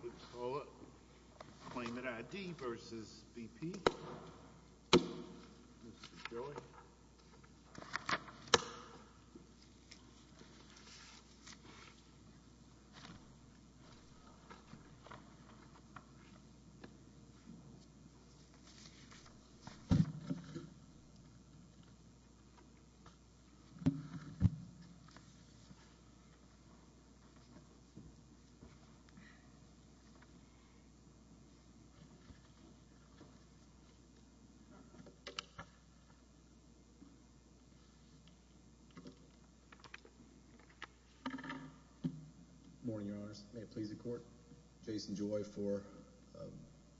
would call it claimant I.D. versus BP. Morning, your honors. May it please the court. Jason Joy for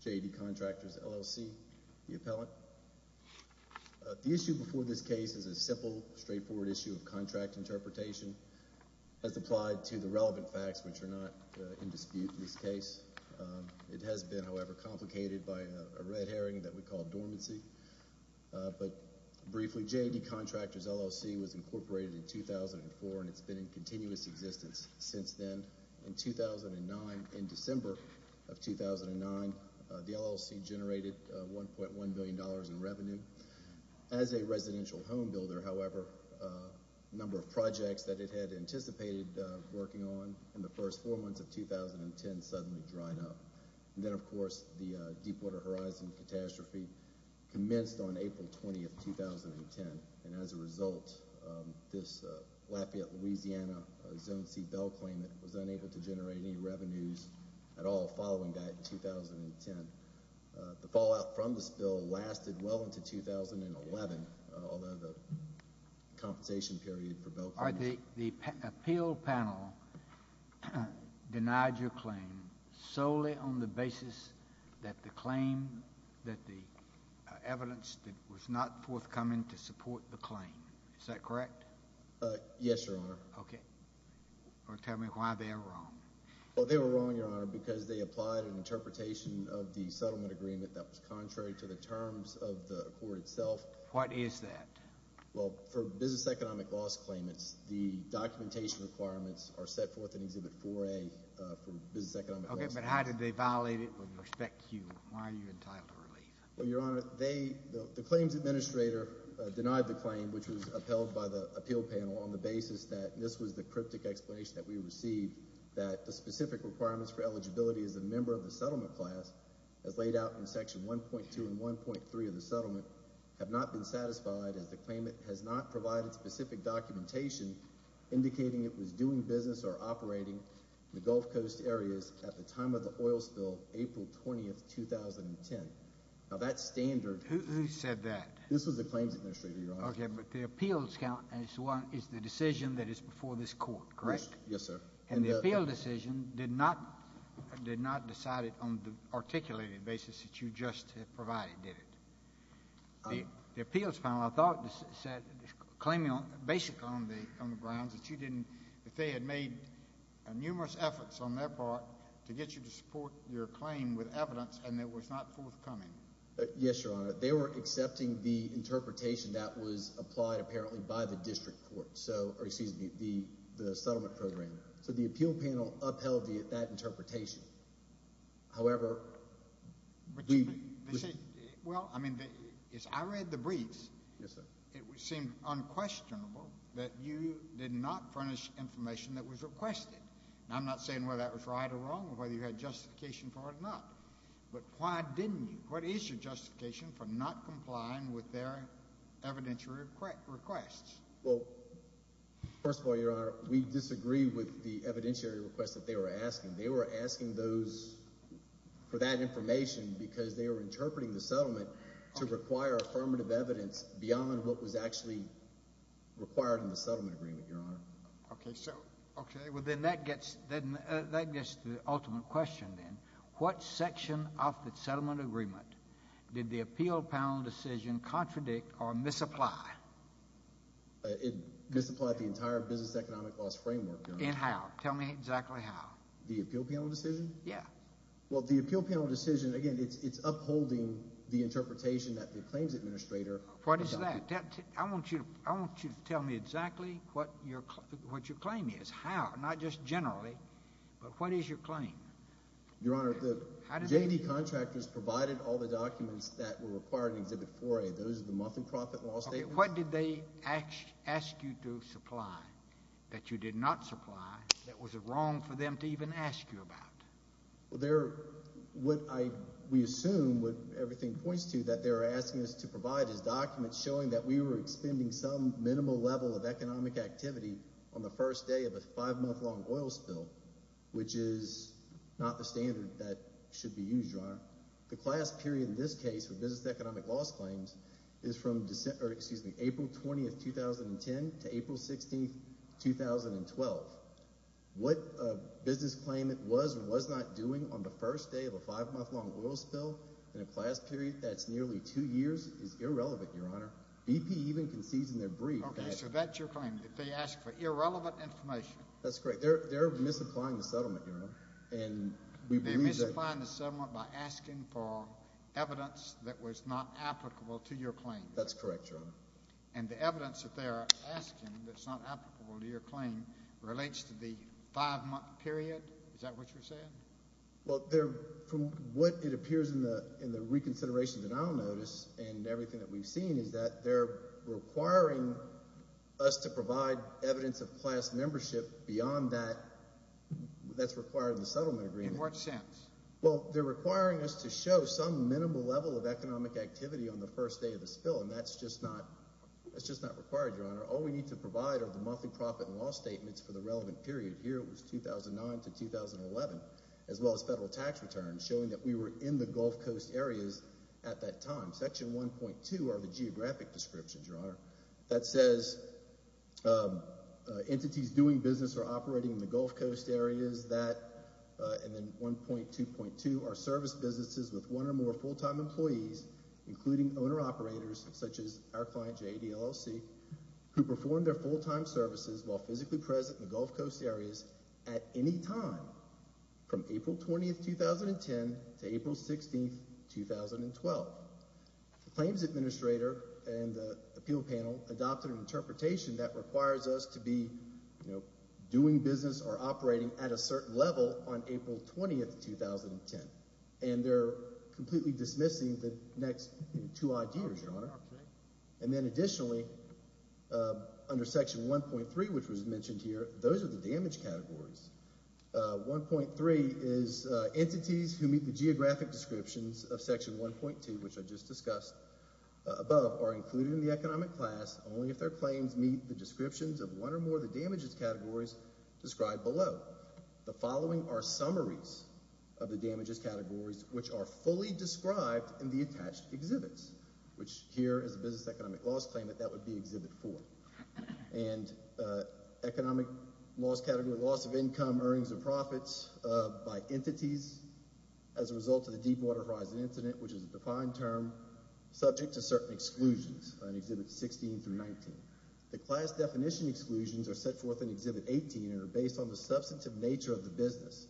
J.D. Contractors LLC, the appellant. The issue before this case is a simple, straightforward issue of contract interpretation as applied to the relevant facts which are not in dispute in this case. It has been, however, complicated by a red herring that we call dormancy. But, briefly, J.D. Contractors LLC was incorporated in 2004 and it's been in continuous existence since then. In 2009, in December of 2009, the LLC generated $1.1 billion in revenue. As a residential home builder, however, a first four months of 2010 suddenly dried up. Then, of course, the Deepwater Horizon catastrophe commenced on April 20th, 2010. And, as a result, this Lafayette, Louisiana, Zone C bell claimant was unable to generate any revenues at all following that in 2010. The fallout from this bill lasted well into 2011, although the compensation period for bell claimants— Your Honor, the appeal panel denied your claim solely on the basis that the claim, that the evidence that was not forthcoming to support the claim. Is that correct? Yes, Your Honor. Okay. Or tell me why they were wrong. Well, they were wrong, Your Honor, because they applied an interpretation of the settlement agreement that was contrary to the terms of the court itself. What is that? Well, for business economic loss claimants, the documentation requirements are set forth in Exhibit 4A for business economic loss claimants. Okay, but how did they violate it with respect to you? Why are you entitled to relief? Well, Your Honor, they, the claims administrator denied the claim, which was upheld by the appeal panel on the basis that this was the cryptic explanation that we received, that the specific requirements for eligibility as a member of the settlement class, as laid out in Section 1.2 and 1.3 of the settlement, have not been satisfied as the claimant has not provided specific documentation indicating it was doing business or operating in the Gulf Coast areas at the time of the oil spill, April 20, 2010. Now, that standard— Who said that? This was the claims administrator, Your Honor. Okay, but the appeals count as the decision that is before this court, correct? Yes, sir. And the appeal decision did not, did not decide it on the articulated basis that you just provided, did it? The appeals panel, I thought, said, claiming on, basically on the grounds that you didn't, that they had made numerous efforts on their part to get you to support your claim with evidence and it was not forthcoming. Yes, Your Honor. They were accepting the interpretation that was applied, apparently, by the district court, so, or excuse me, the settlement program. So the appeal panel upheld that interpretation. However, the— Well, I mean, as I read the briefs, it seemed unquestionable that you did not furnish information that was requested. And I'm not saying whether that was right or wrong or whether you had justification for it or not. But why didn't you? What is your justification for not complying with their evidentiary requests? Well, first of all, Your Honor, we disagree with the evidentiary requests that they were asking. They were asking those, for that information, because they were interpreting the settlement to require affirmative evidence beyond what was actually required in the settlement agreement, Your Honor. Okay, so— Okay, well, then that gets, that gets to the ultimate question, then. What section of the It misapplied the entire business economic loss framework, Your Honor. In how? Tell me exactly how. The appeal panel decision? Yeah. Well, the appeal panel decision, again, it's upholding the interpretation that the claims administrator— What is that? I want you, I want you to tell me exactly what your, what your claim is. How? Not just generally, but what is your claim? Your Honor, the— How did they— J.D. contractors provided all the documents that were required in Exhibit 4A. Those are the muffin profit law statements. What did they ask, ask you to supply that you did not supply that was wrong for them to even ask you about? Well, there, what I, we assume, what everything points to, that they're asking us to provide is documents showing that we were expending some minimal level of economic activity on the first day of a five-month-long oil spill, which is not the standard that should be used, Your Honor. The class period in this case for business and economic loss claims is from April 20, 2010 to April 16, 2012. What a business claimant was or was not doing on the first day of a five-month-long oil spill in a class period that's nearly two years is irrelevant, Your Honor. BP even concedes in their brief that— Okay, so that's your claim, that they asked for irrelevant information. That's correct. They're, they're misapplying the settlement, Your Honor, and we believe that— They're asking for evidence that was not applicable to your claim. That's correct, Your Honor. And the evidence that they are asking that's not applicable to your claim relates to the five-month period? Is that what you're saying? Well, they're, from what it appears in the, in the reconsiderations that I'll notice and everything that we've seen is that they're requiring us to provide evidence of class membership beyond that, that's required in the settlement agreement. In what sense? Well, they're requiring us to show some minimal level of economic activity on the first day of the spill, and that's just not, that's just not required, Your Honor. All we need to provide are the monthly profit and loss statements for the relevant period. Here it was 2009 to 2011, as well as federal tax returns showing that we were in the Gulf Coast areas at that time. Section 1.2 are the geographic descriptions, Your Honor, that says entities doing business or operating in the Gulf Coast areas, that, and then 1.2.2 are service businesses with one or more full-time employees, including owner-operators such as our client, JAD LLC, who perform their full-time services while physically present in the Gulf Coast areas at any time from April 20th, 2010 to April 16th, 2012. The claims administrator and the appeal panel adopted an interpretation that requires us to be, you know, doing business or operating at a certain level on April 20th, 2010. And they're completely dismissing the next two ideas, Your Honor. And then additionally, under Section 1.3, which was mentioned here, those are the damage categories. 1.3 is entities who meet the geographic descriptions of Section 1.2, which I just discussed above, are included in the economic class only if their claims meet the descriptions of one or more of the damages categories described below. The following are summaries of the damages categories, which are fully described in the attached exhibits, which here is a business economic loss claim that that would be Exhibit 4. And economic loss category, loss of income, earnings and profits by entities as a result of the Deepwater Horizon incident, which is a defined term, subject to certain exclusions on Exhibits 16 through 19. The class definition exclusions are set forth in Exhibit 18 and are based on the substantive nature of the business.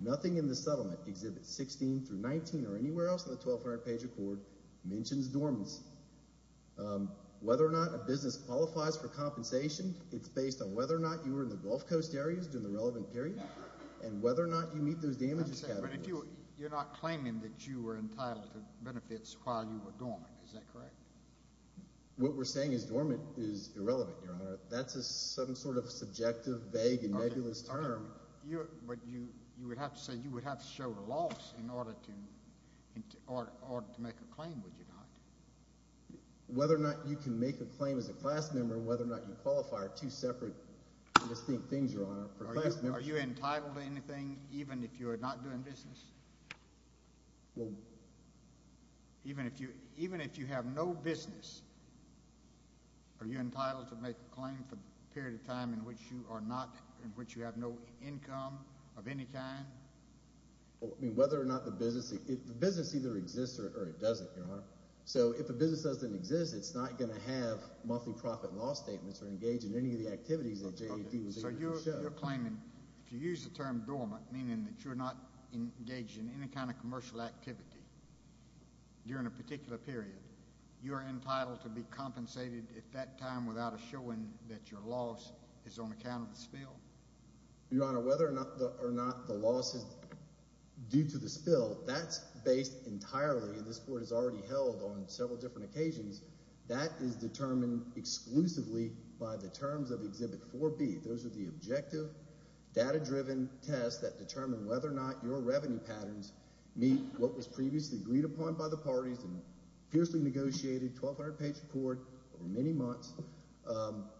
Nothing in the settlement, Exhibits 16 through 19 or anywhere else in the 1,200-page record, mentions dormancy. Whether or not a business qualifies for compensation, it's based on whether or not you were in the Gulf Coast areas during the relevant period and whether or not you meet those damages categories. But you're not claiming that you were entitled to benefits while you were dormant, is that correct? What we're saying is dormant is irrelevant, Your Honor. That's some sort of subjective, vague and nebulous term. But you would have to say you would have to show the loss in order to make a claim, would you not? Whether or not you can make a claim as a class member, whether or not you qualify are two separate distinct things, Your Honor. Are you entitled to anything even if you are not doing business? Even if you have no business, are you entitled to make a claim for a period of time in which you have no income of any kind? Whether or not the business, the business either exists or it doesn't, Your Honor. So if a business doesn't exist, it's not going to have multi-profit law statements So you're claiming, if you use the term dormant, meaning that you're not engaged in any kind of commercial activity during a particular period, you're entitled to be compensated at that time without a showing that your loss is on account of the spill? Your Honor, whether or not the loss is due to the spill, that's based entirely, this is determined exclusively by the terms of Exhibit 4B. Those are the objective, data-driven tests that determine whether or not your revenue patterns meet what was previously agreed upon by the parties and fiercely negotiated 1200 page report over many months,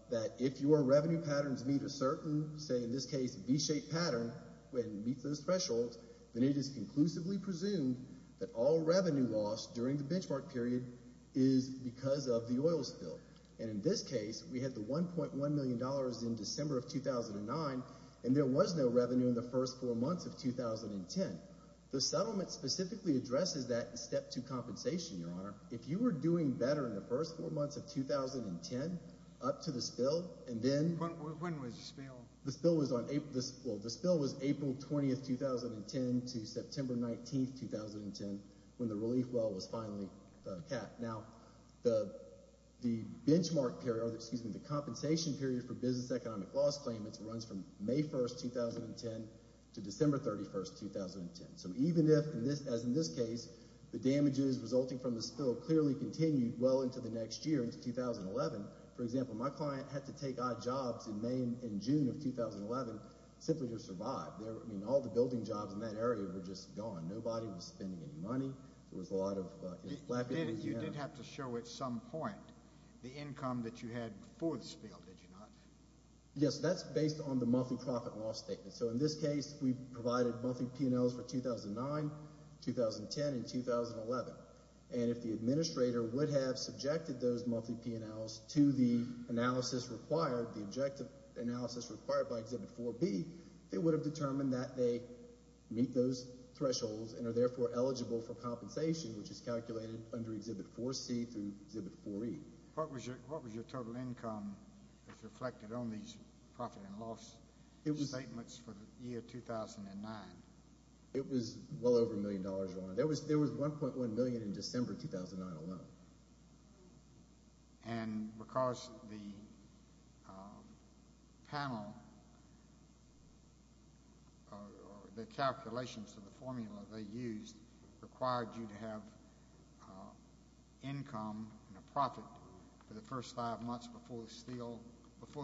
that if your revenue patterns meet a certain, say in this case, V-shaped pattern, when it meets those thresholds, then it is conclusively presumed that all revenue lost during the benchmark period is because of the oil spill. And in this case, we had the $1.1 million in December of 2009, and there was no revenue in the first four months of 2010. The settlement specifically addresses that in Step 2 compensation, Your Honor. If you were doing better in the first four months of 2010, up to the spill, and then When was the spill? The spill was April 20th, 2010 to September 19th, 2010, when the relief well was finally capped. Now, the benchmark period, or excuse me, the compensation period for business economic loss claimants runs from May 1st, 2010 to December 31st, 2010. So even if, as in this case, the damages resulting from the spill clearly continued well into the next year, into 2011, for example, my client had to take odd jobs in May and June of 2011 simply to survive. I mean, all the building jobs in that area were just gone. Nobody was spending any money. There was a lot of... You did have to show at some point the income that you had before the spill, did you not? Yes, that's based on the monthly profit loss statement. So in this case, we provided monthly P&Ls for 2009, 2010, and 2011. And if the administrator would have subjected those monthly P&Ls to the analysis required, the objective analysis required by Exhibit 4B, they would have determined that they meet those thresholds and are therefore eligible for compensation, which is calculated under Exhibit 4C through Exhibit 4E. What was your total income as reflected on these profit and loss statements for the year 2009? It was well over a million dollars, Your Honor. There was $1.1 million in December 2009 alone. And because the panel or the calculations to the formula they used required you to have income and a profit for the first five months before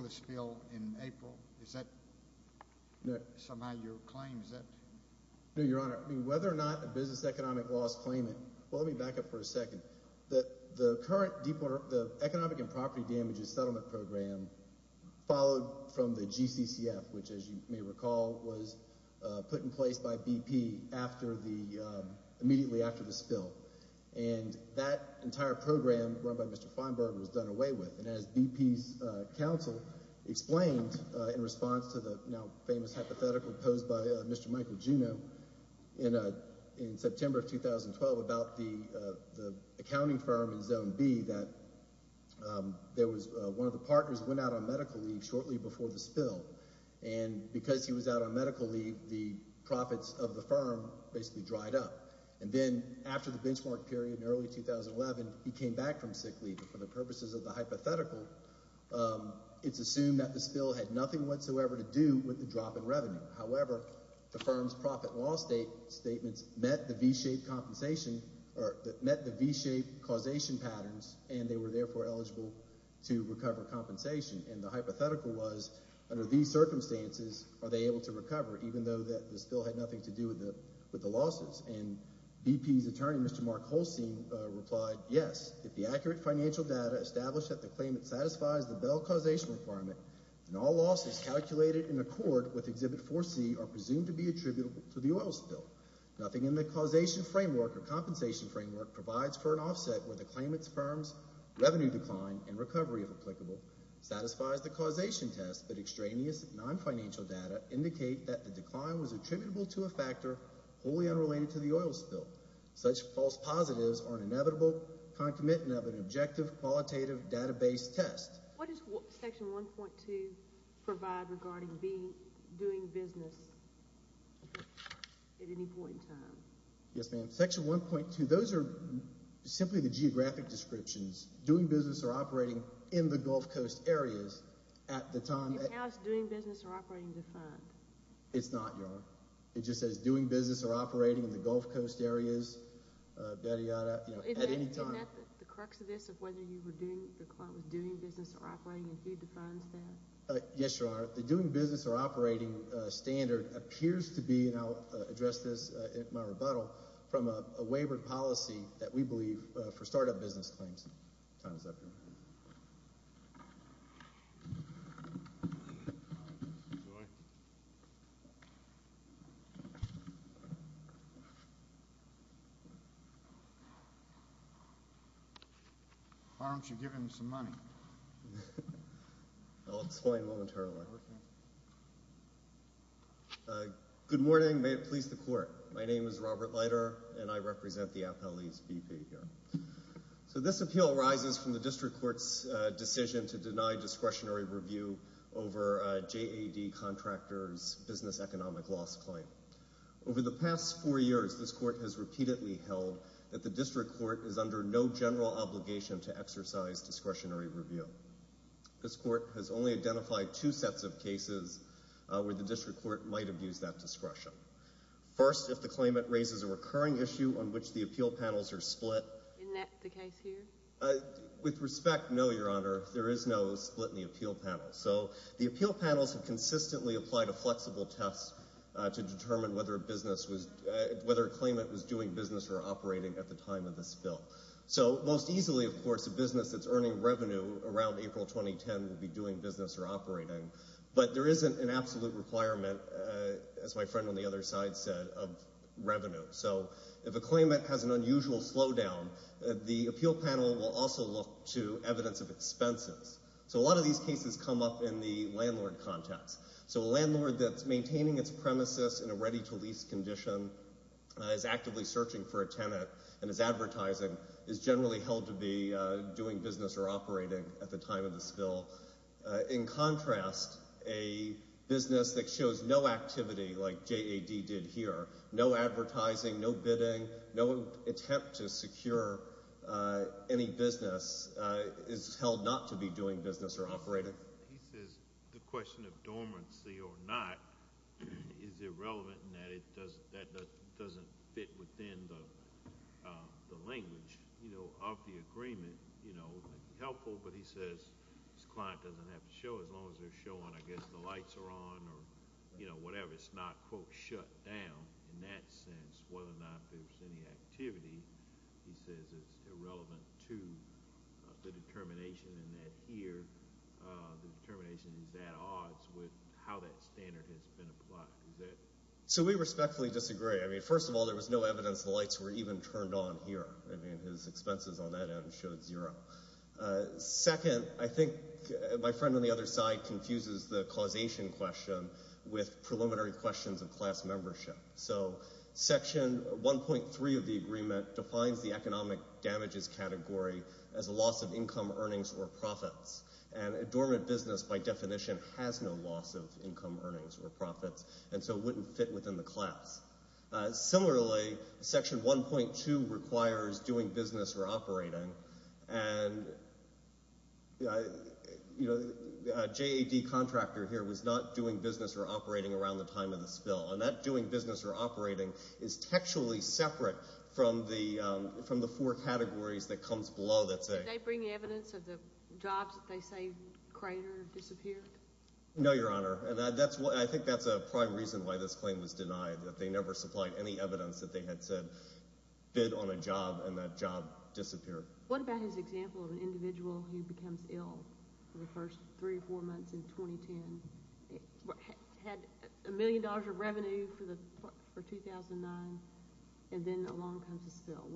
the spill in April, is that somehow your claim? Is that...? No, Your Honor. I mean, whether or not the business economic loss claimant... The current Economic and Property Damages Settlement Program followed from the GCCF, which, as you may recall, was put in place by BP immediately after the spill. And that entire program run by Mr. Feinberg was done away with. And as BP's counsel explained in response to the now famous hypothetical posed by Mr. Accounting Firm in Zone B, that one of the partners went out on medical leave shortly before the spill. And because he was out on medical leave, the profits of the firm basically dried up. And then after the benchmark period in early 2011, he came back from sick leave. For the purposes of the hypothetical, it's assumed that the spill had nothing whatsoever to do with the drop in revenue. However, the firm's profit loss statements met the V-shaped compensation, or met the V-shaped causation patterns, and they were therefore eligible to recover compensation. And the hypothetical was, under these circumstances, are they able to recover, even though that the spill had nothing to do with the losses? And BP's attorney, Mr. Mark Holstein, replied, yes. If the accurate financial data established that the claimant satisfies the bell causation requirement, then all losses calculated in accord with Exhibit 4C are presumed to be attributable to the oil spill. Nothing in the causation framework or compensation framework provides for an offset where the claimant's firm's revenue decline and recovery, if applicable, satisfies the causation test, but extraneous non-financial data indicate that the decline was attributable to a factor wholly unrelated to the oil spill. Such false positives are an inevitable concomitant of an objective qualitative database test. What does Section 1.2 provide regarding doing business at any point in time? Yes, ma'am. Section 1.2, those are simply the geographic descriptions. Doing business or operating in the Gulf Coast areas at the time. And how is doing business or operating defined? It's not, Your Honor. It just says doing business or operating in the Gulf Coast areas, you know, at any time. Isn't that the crux of this, of whether the claimant was doing business or operating and who defines that? Yes, Your Honor. The doing business or operating standard appears to be, and I'll address this in my rebuttal, from a wavered policy that we believe for start-up business claims. Time is up, Your Honor. Why don't you give him some money? I'll explain momentarily. Good morning. May it please the Court. My name is Robert Leiter, and I represent the appellee's VP here. So this appeal arises from the District Court's decision to deny discretionary review over a JAD contractor's business economic loss claim. Over the past four years, this Court has repeatedly held that the District Court is under no general obligation to exercise discretionary review. This Court has only identified two sets of cases where the District Court might have used that discretion. First, if the claimant raises a recurring issue on which the appeal panels are split. Isn't that the case here? With respect, no, Your Honor. There is no split in the appeal panels. So the appeal panels have consistently applied a flexible test to determine whether a business was, whether a claimant was doing business or operating at the time of this bill. So most easily, of course, a business that's earning revenue around April 2010 will be doing business or operating. But there isn't an absolute requirement, as my friend on the other side said, of revenue. So if a claimant has an unusual slowdown, the appeal panel will also look to evidence of expenses. So a lot of these cases come up in the landlord context. So a landlord that's maintaining its premises in a ready-to-lease condition, is actively searching for a tenant, and is advertising, is generally held to be doing business or operating at the time of this bill. In contrast, a business that shows no activity, like JAD did here, no advertising, no bidding, no attempt to secure any business, is held not to be doing business or operating. He says the question of dormancy or not is irrelevant in that it doesn't fit within the language, you know, of the agreement. You know, helpful, but he says his client doesn't have to show as long as they're showing, I guess, the lights are on or, you know, whatever. It's not, quote, shut down. In that sense, whether or not there's any activity, he says, is irrelevant to the determination in that here, the determination is at odds with how that standard has been applied. So we respectfully disagree. I mean, first of all, there was no evidence the lights were even turned on here. I mean, his expenses on that end showed zero. Second, I think my friend on the other side confuses the causation question with preliminary questions of class membership. So Section 1.3 of the agreement defines the economic damages category as a loss of income earnings or profits. And a dormant business, by definition, has no loss of income earnings or profits, and so it wouldn't fit within the class. Similarly, Section 1.2 requires doing business or operating. And, you know, a JAD contractor here was not doing business or operating around the time of the spill. And that doing business or operating is textually separate from the four categories that comes below that thing. Did they bring evidence of the jobs that they say cratered or disappeared? No, Your Honor. And I think that's a prime reason why this claim was denied, that they never supplied any evidence that they had said bid on a job and that job disappeared. What about his example of an individual who becomes ill for the first three or four months in 2010, had a million dollars of revenue for 2009, and then along comes a spill?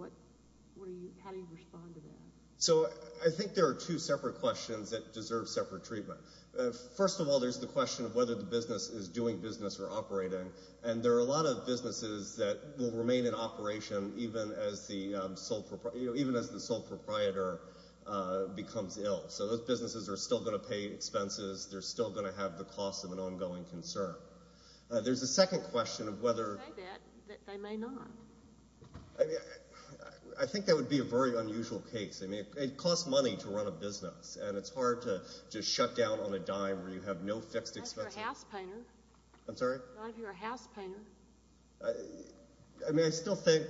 How do you respond to that? So I think there are two separate questions that deserve separate treatment. First of all, there's the question of whether the business is doing business or operating. And there are a lot of businesses that will remain in operation even as the sole proprietor becomes ill. So those businesses are still going to pay expenses. They're still going to have the cost of an ongoing concern. There's a second question of whether… They may not. I think that would be a very unusual case. I mean, it costs money to run a business. And it's hard to just shut down on a dime where you have no fixed expenses. Not if you're a house painter. I'm sorry? Not if you're a house painter. I mean, I still think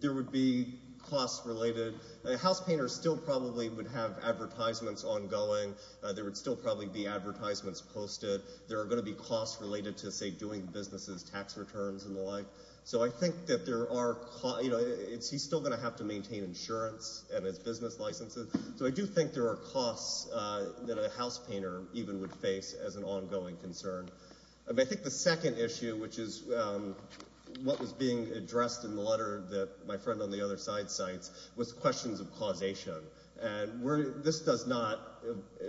there would be costs related. A house painter still probably would have advertisements ongoing. There would still probably be advertisements posted. There are going to be costs related to, say, doing businesses, tax returns and the like. So I think that there are… He's still going to have to maintain insurance and his business licenses. So I do think there are costs that a house painter even would face as an ongoing concern. I think the second issue, which is what was being addressed in the letter that my friend on the other side cites, was questions of causation. And this does not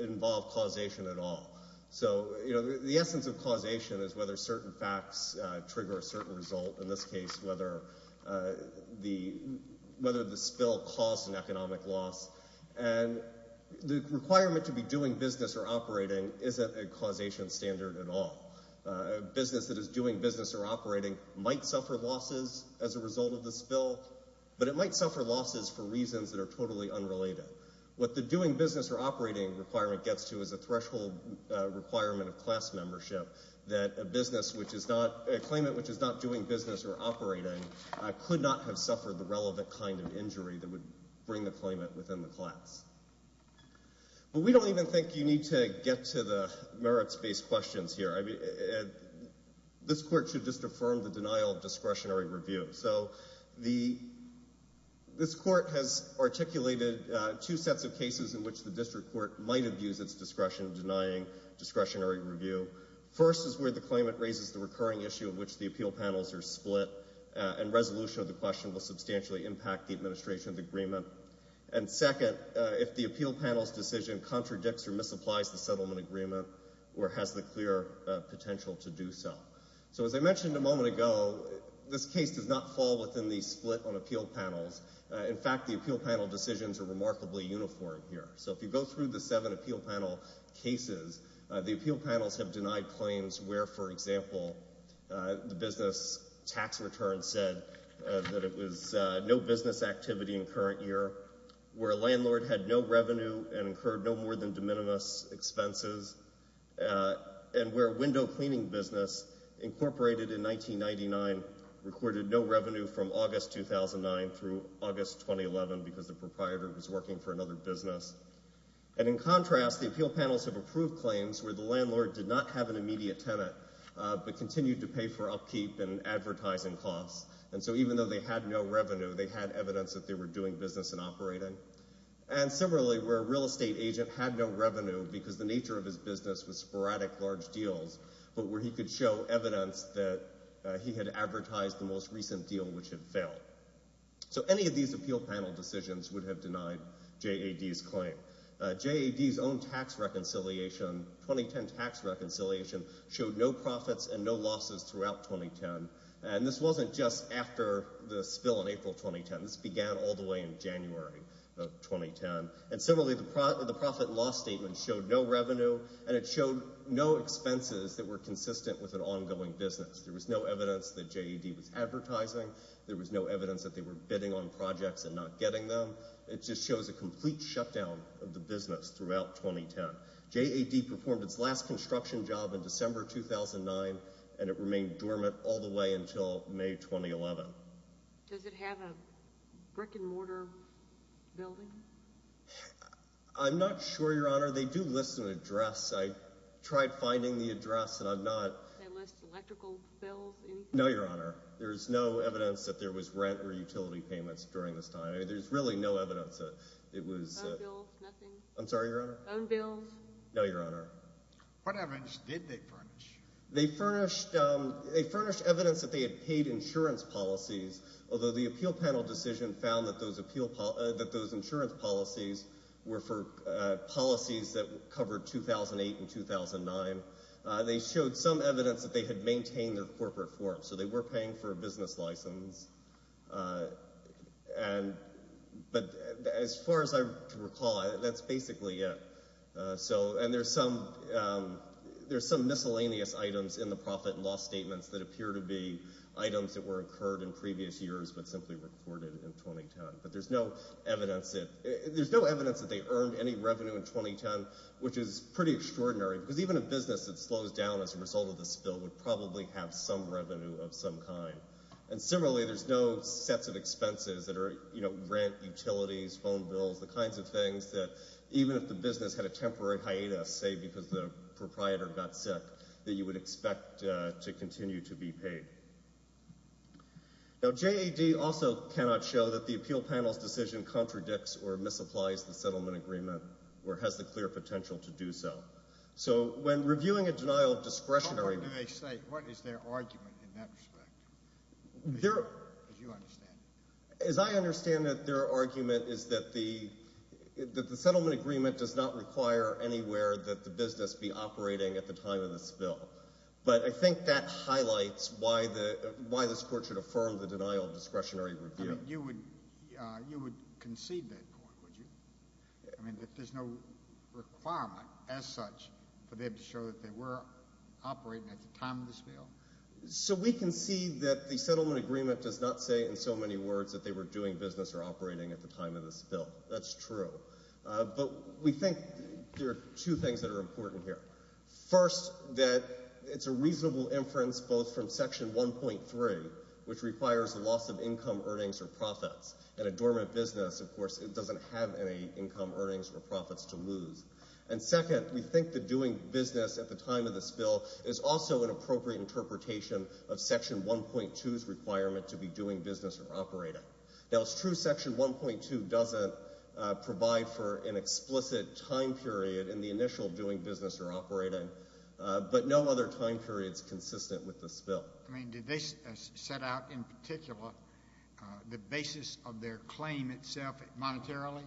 involve causation at all. So the essence of causation is whether certain facts trigger a certain result. In this case, whether the spill caused an economic loss. And the requirement to be doing business or operating isn't a causation standard at all. A business that is doing business or operating might suffer losses as a result of the spill. But it might suffer losses for reasons that are totally unrelated. What the doing business or operating requirement gets to is a threshold requirement of class membership that a business which is not… a claimant which is not doing business or operating could not have suffered the relevant kind of injury that would bring the claimant within the class. But we don't even think you need to get to the merits-based questions here. This court should just affirm the denial of discretionary review. So this court has articulated two sets of cases in which the district court might abuse its discretion denying discretionary review. First is where the claimant raises the recurring issue in which the appeal panels are split and resolution of the question will substantially impact the administration of the agreement. And second, if the appeal panel's decision contradicts or misapplies the settlement agreement or has the clear potential to do so. So as I mentioned a moment ago, this case does not fall within the split on appeal panels. In fact, the appeal panel decisions are remarkably uniform here. So if you go through the seven appeal panel cases, the appeal panels have denied claims where, for example, the business tax return said that it was no business activity in current year, where a landlord had no revenue and incurred no more than de minimis expenses, and where a window cleaning business, incorporated in 1999, recorded no revenue from August 2009 through August 2011 because the proprietor was working for another business. And in contrast, the appeal panels have approved claims where the landlord did not have an immediate tenant but continued to pay for upkeep and advertising costs. And so even though they had no revenue, they had evidence that they were doing business and operating. And similarly, where a real estate agent had no revenue because the nature of his business was sporadic large deals, but where he could show evidence that he had advertised the most recent deal, which had failed. So any of these appeal panel decisions would have denied JAD's claim. JAD's own tax reconciliation, 2010 tax reconciliation, showed no profits and no losses throughout 2010. And this wasn't just after the spill in April 2010. This began all the way in January of 2010. And similarly, the profit loss statement showed no revenue and it showed no expenses that were consistent with an ongoing business. There was no evidence that JAD was advertising. There was no evidence that they were bidding on projects and not getting them. It just shows a complete shutdown of the business throughout 2010. JAD performed its last construction job in December 2009 and it remained dormant all the way until May 2011. Does it have a brick-and-mortar building? I'm not sure, Your Honor. They do list an address. I tried finding the address and I'm not... They list electrical bills, anything? No, Your Honor. There's no evidence that there was rent or utility payments during this time. There's really no evidence that it was... Phone bills, nothing? I'm sorry, Your Honor? Phone bills? No, Your Honor. What evidence did they furnish? They furnished evidence that they had paid insurance policies, although the appeal panel decision found that those insurance policies were for policies that covered 2008 and 2009. They showed some evidence that they had maintained their corporate form, so they were paying for a business license. But as far as I recall, that's basically it. And there's some miscellaneous items in the profit and loss statements that appear to be items that were incurred in previous years but simply recorded in 2010. But there's no evidence that they earned any revenue in 2010, which is pretty extraordinary because even a business that slows down as a result of the spill would probably have some revenue of some kind. And similarly, there's no sets of expenses that are rent, utilities, phone bills, the kinds of things that even if the business had a temporary hiatus, say because the proprietor got sick, that you would expect to continue to be paid. Now, JAD also cannot show that the appeal panel's decision contradicts or misapplies the settlement agreement or has the clear potential to do so. So when reviewing a denial of discretion... How important do they say? What is their argument in that respect? As you understand it. As I understand it, their argument is that the settlement agreement does not require anywhere that the business be operating at the time of the spill. But I think that highlights why this court should affirm the denial of discretionary review. I mean, you would concede that point, would you? I mean, that there's no requirement as such for them to show that they were operating at the time of the spill? So we concede that the settlement agreement does not say in so many words that they were doing business or operating at the time of the spill. That's true. But we think there are two things that are important here. First, that it's a reasonable inference both from Section 1.3, which requires the loss of income, earnings, or profits. In a dormant business, of course, it doesn't have any income, earnings, or profits to lose. And second, we think that doing business at the time of the spill is also an appropriate interpretation of Section 1.2's requirement to be doing business or operating. Now, it's true Section 1.2 doesn't provide for an explicit time period in the initial doing business or operating, but no other time period is consistent with the spill. I mean, did they set out, in particular, the basis of their claim itself monetarily?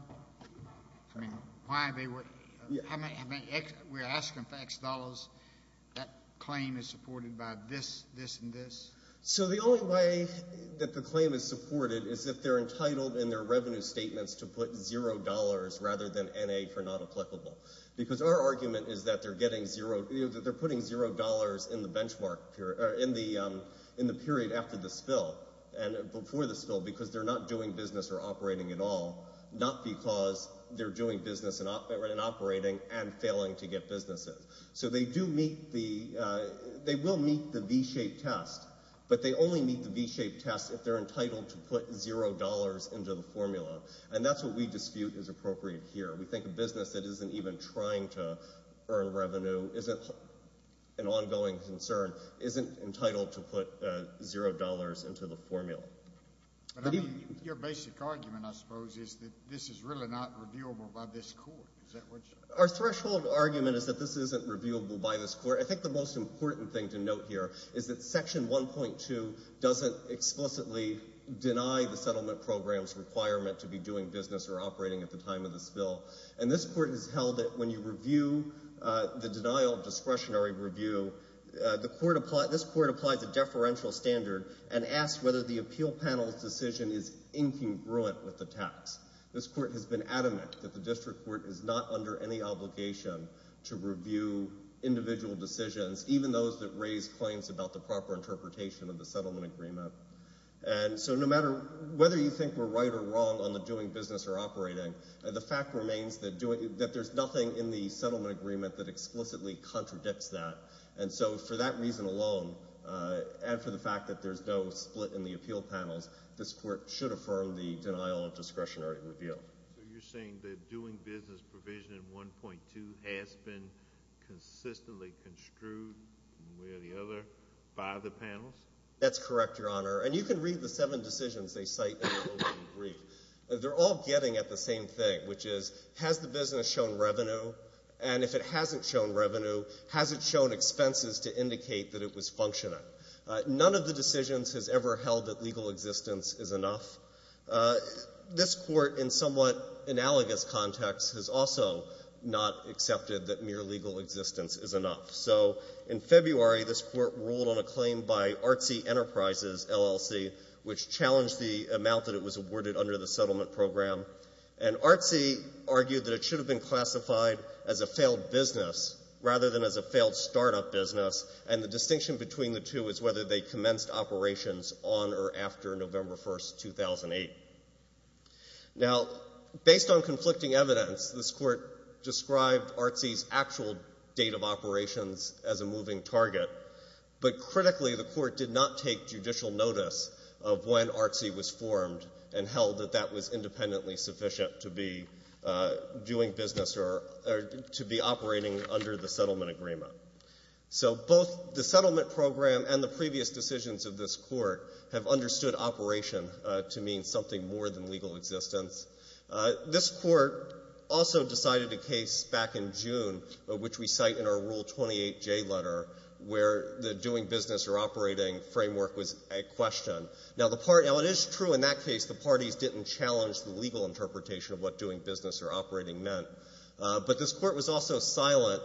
I mean, why they were... We're asking for X dollars. That claim is supported by this, this, and this? So the only way that the claim is supported is if they're entitled in their revenue statements to put zero dollars rather than N.A. for not applicable. Because our argument is that they're putting zero dollars in the period after the spill and before the spill because they're not doing business or operating at all, not because they're doing business and operating and failing to get businesses. So they will meet the V-shaped test, but they only meet the V-shaped test if they're entitled to put zero dollars into the formula. And that's what we dispute is appropriate here. We think a business that isn't even trying to earn revenue, isn't an ongoing concern, isn't entitled to put zero dollars into the formula. Your basic argument, I suppose, is that this is really not reviewable by this court. Our threshold argument is that this isn't reviewable by this court. I think the most important thing to note here is that section 1.2 doesn't explicitly deny the settlement program's requirement to be doing business or operating at the time of the spill. And this court has held that when you review the denial of discretionary review, this court applies a deferential standard and asks whether the appeal panel's decision is incongruent with the tax. This court has been adamant that the district court is not under any obligation to review individual decisions, even those that raise claims about the proper interpretation of the settlement agreement. And so no matter whether you think we're right or wrong on the doing business or operating, the fact remains that there's nothing in the settlement agreement that explicitly contradicts that. And so for that fact that there's no split in the appeal panels, this court should affirm the denial of discretionary review. So you're saying that doing business provision in 1.2 has been consistently construed one way or the other by the panels? That's correct, Your Honor. And you can read the seven decisions they cite in the opening brief. They're all getting at the same thing, which is has the business shown revenue? And if it hasn't shown revenue, has it shown expenses to indicate that it was functioning? None of the decisions has ever held that legal existence is enough. This court, in somewhat analogous context, has also not accepted that mere legal existence is enough. So in February, this court ruled on a claim by Artsy Enterprises, LLC, which challenged the amount that it was awarded under the settlement program. And Artsy argued that it should have been classified as a failed business rather than as a business. The distinction between the two is whether they commenced operations on or after November 1, 2008. Now, based on conflicting evidence, this court described Artsy's actual date of operations as a moving target, but critically the court did not take judicial notice of when Artsy was formed and held that that was independently sufficient to be doing business or to be operating under the settlement agreement. So both the settlement program and the previous decisions of this court have understood operation to mean something more than legal existence. This court also decided a case back in June, which we cite in our Rule 28J letter, where the doing business or operating framework was at question. Now, it is true in that case the parties didn't challenge the legal interpretation of what doing business or operating meant, but this court was also silent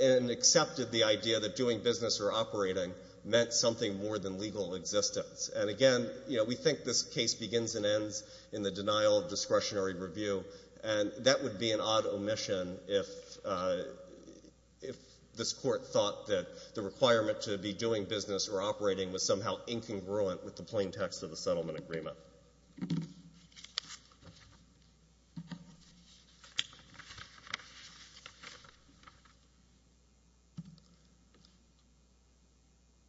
and accepted the idea that doing business or operating meant something more than legal existence. And again, we think this case begins and ends in the denial of discretionary review and that would be an odd omission if this court thought that the requirement to be doing business or operating was somehow incongruent with the plain text of the settlement agreement.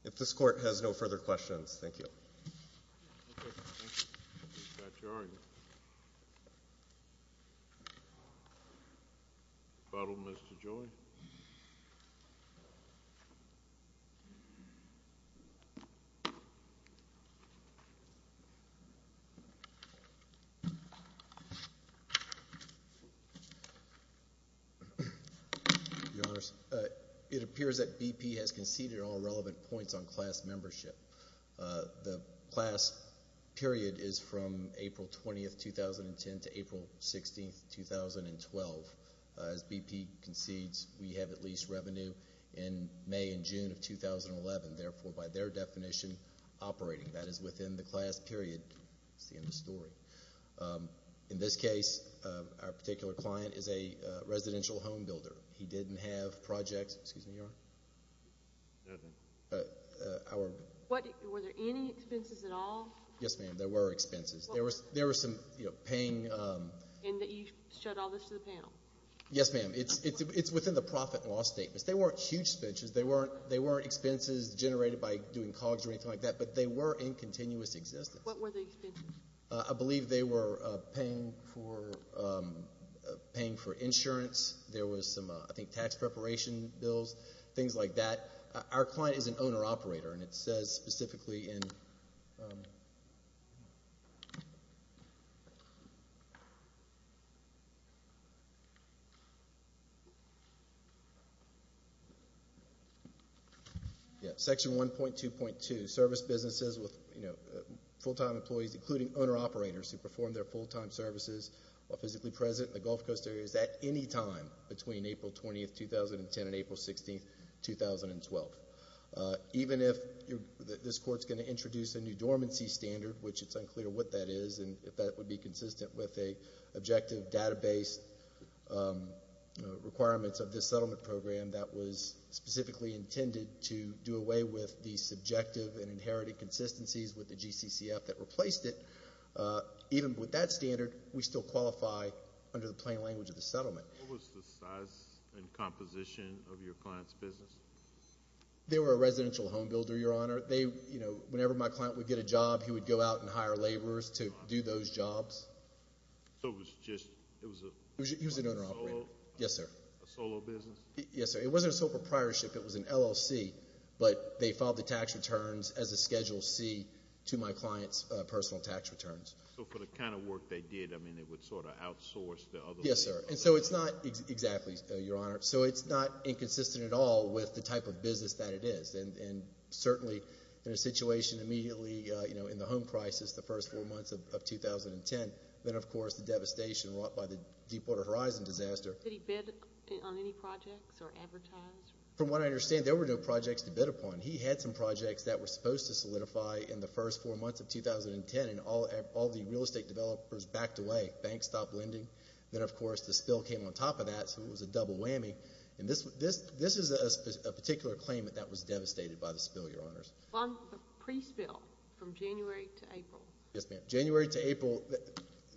If this court has no further questions, thank you. Your Honors, it appears that BP has conceded all relevant points on class membership. The class period is from April 20, 2010 to April 16, 2012. As BP concedes, we have at least revenue in May and June of 2011. Therefore, by their definition, operating, that is within the class period, that's the end of the story. In this case, our particular client is a residential home builder. He didn't have projects. Excuse me, Your Honor? Nothing. Were there any expenses at all? Yes, ma'am, there were expenses. There were some paying... And that you showed all this to the panel? Yes, ma'am. It's within the profit and loss statements. They weren't huge expenses. They weren't expenses generated by doing COGS or anything like that, but they were in continuous existence. What were the expenses? I believe they were paying for insurance. There was some, I think, tax preparation bills, things like that. Our client is an owner-operator, and it says specifically in... Section 1.2.2, service businesses with full-time employees, including owner-operators who perform their full-time services while physically present in the Gulf Coast areas at any time between April 20, 2010 and April 16, 2012. Even if this Court's going to introduce a new dormancy standard, which it's unclear what that is and if that would be consistent with the objective database requirements of this settlement program that was specifically intended to do away with the subjective and inherited inconsistencies with the GCCF that replaced it, even with that standard, we still qualify under the plain language of the settlement. What was the size and composition of your client's business? They were a residential homebuilder, Your Honor. Whenever my client would get a job, he would go out and hire laborers to do those jobs. So it was just... He was an owner-operator. Yes, sir. A solo business? Yes, sir. It wasn't a solo proprietorship. It was an LLC, but they filed the tax returns as a Schedule C to my client's personal tax returns. So for the kind of work they did, I mean, it would sort of outsource the other... Yes, sir. And so it's not... Exactly, Your Honor. So it's not inconsistent at all with the type of business that it is. And certainly in a situation immediately, you know, in the home crisis, the first four months of 2010, then of course the devastation wrought by the Deepwater Horizon disaster... Did he bid on any projects or advertise? From what I understand, there were no projects to bid upon. He had some projects that were supposed to solidify in the first four months of 2010, and all the real estate developers backed away. Banks stopped lending. Then of course the spill came on top of that, so it was a double whammy. And this is a particular claimant that was devastated by the spill, Your Honors. On the pre-spill from January to April... Yes, ma'am. January to April,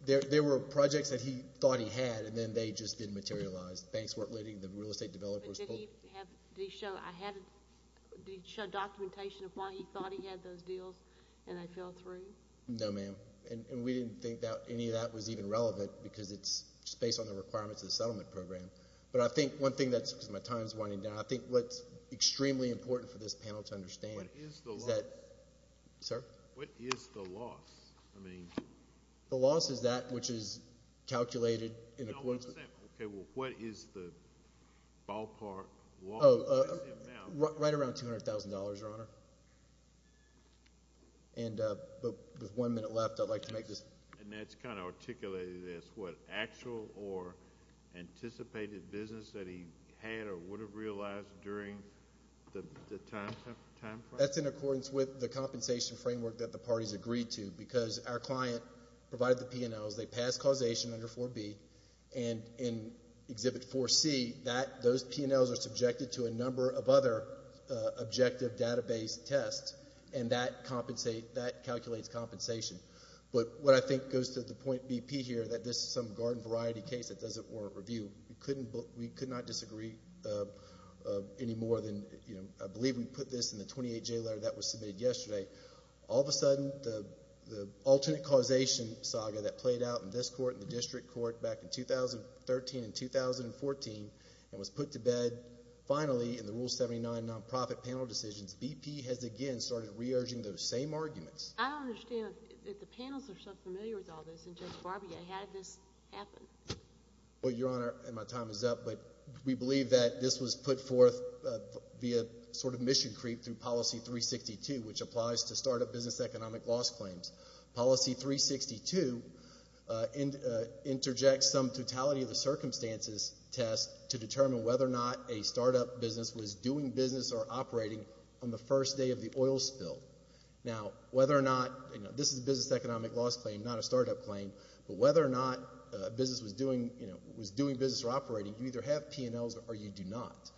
there were projects that he thought he had, and then they just didn't materialize. Banks weren't lending, the real estate developers... Did he show documentation of why he thought he had those deals, and they fell through? No, ma'am. And we didn't think that any of that was even relevant because it's just based on the requirements of the settlement program. But I think one thing that's, because my time's winding down, I think what's extremely important for this panel to understand is that... What is the loss? Sir? What is the loss? I mean... The loss is that which is calculated in accordance with... Okay, well, what is the ballpark loss? Oh, right around $200,000, Your Honor. And there's one minute left. I'd like to make this... And that's kind of articulated as what actual or anticipated business that he had or would have realized during the time frame? That's in accordance with the compensation framework that the parties agreed to because our client provided the P&Ls. They passed causation under 4B and in Exhibit 4C those P&Ls are subjected to a number of other objective database tests and that calculates compensation. But what I think goes to the point BP here, that this is some garden variety case that doesn't warrant review. We could not disagree any more than I believe we put this in the 28J letter that was submitted yesterday. All of a sudden, the case was brought out in this court and the district court back in 2013 and 2014 and was put to bed. Finally, in the Rule 79 non-profit panel decisions, BP has again started re-urging those same arguments. I don't understand. If the panels are so familiar with all this and Judge Barbier, how did this happen? Well, Your Honor, and my time is up, but we believe that this was put forth via sort of mission creep through Policy 362, which applies to startup business economic loss claims. Policy 362 interjects some totality of the circumstances test to determine whether or not a startup business was doing business or operating on the first day of the oil spill. Now, whether or not, this is a business economic loss claim, not a startup claim, but whether or not a business was doing business or operating, you either have P&Ls or you do not.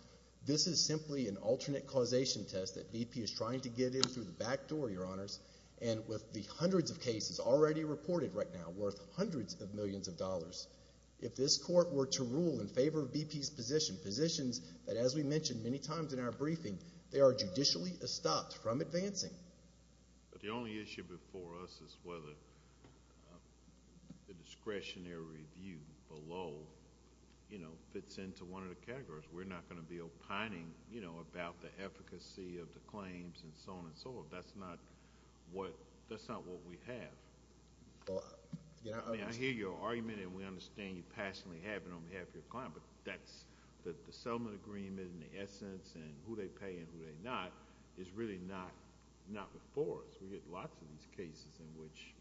This is simply an alternate causation test that BP is trying to get in through the back door, Your Honors, and with the hundreds of cases already reported right now, worth hundreds of millions of dollars, if this Court were to rule in favor of BP's position, positions that as we mentioned many times in our briefing, they are judicially stopped from advancing. But the only issue before us is whether the discretionary view below fits into one of the categories. We're not going to be opining about the efficacy of the P&Ls. That's not what we have. I mean, I hear your argument and we understand you passionately have it on behalf of your client, but the settlement agreement and the essence and who they pay and who they not is really not before us. We get lots of these cases in which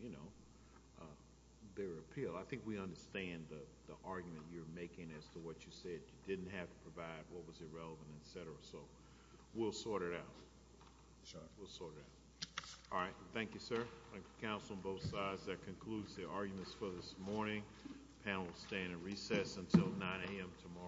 their appeal. I think we understand the argument you're making as to what you said. You didn't have to provide what was irrelevant, et cetera. We'll sort it out. All right. Thank you, sir. Counsel on both sides, that concludes the arguments for this morning. The panel will stay in a recess until 9 a.m. tomorrow.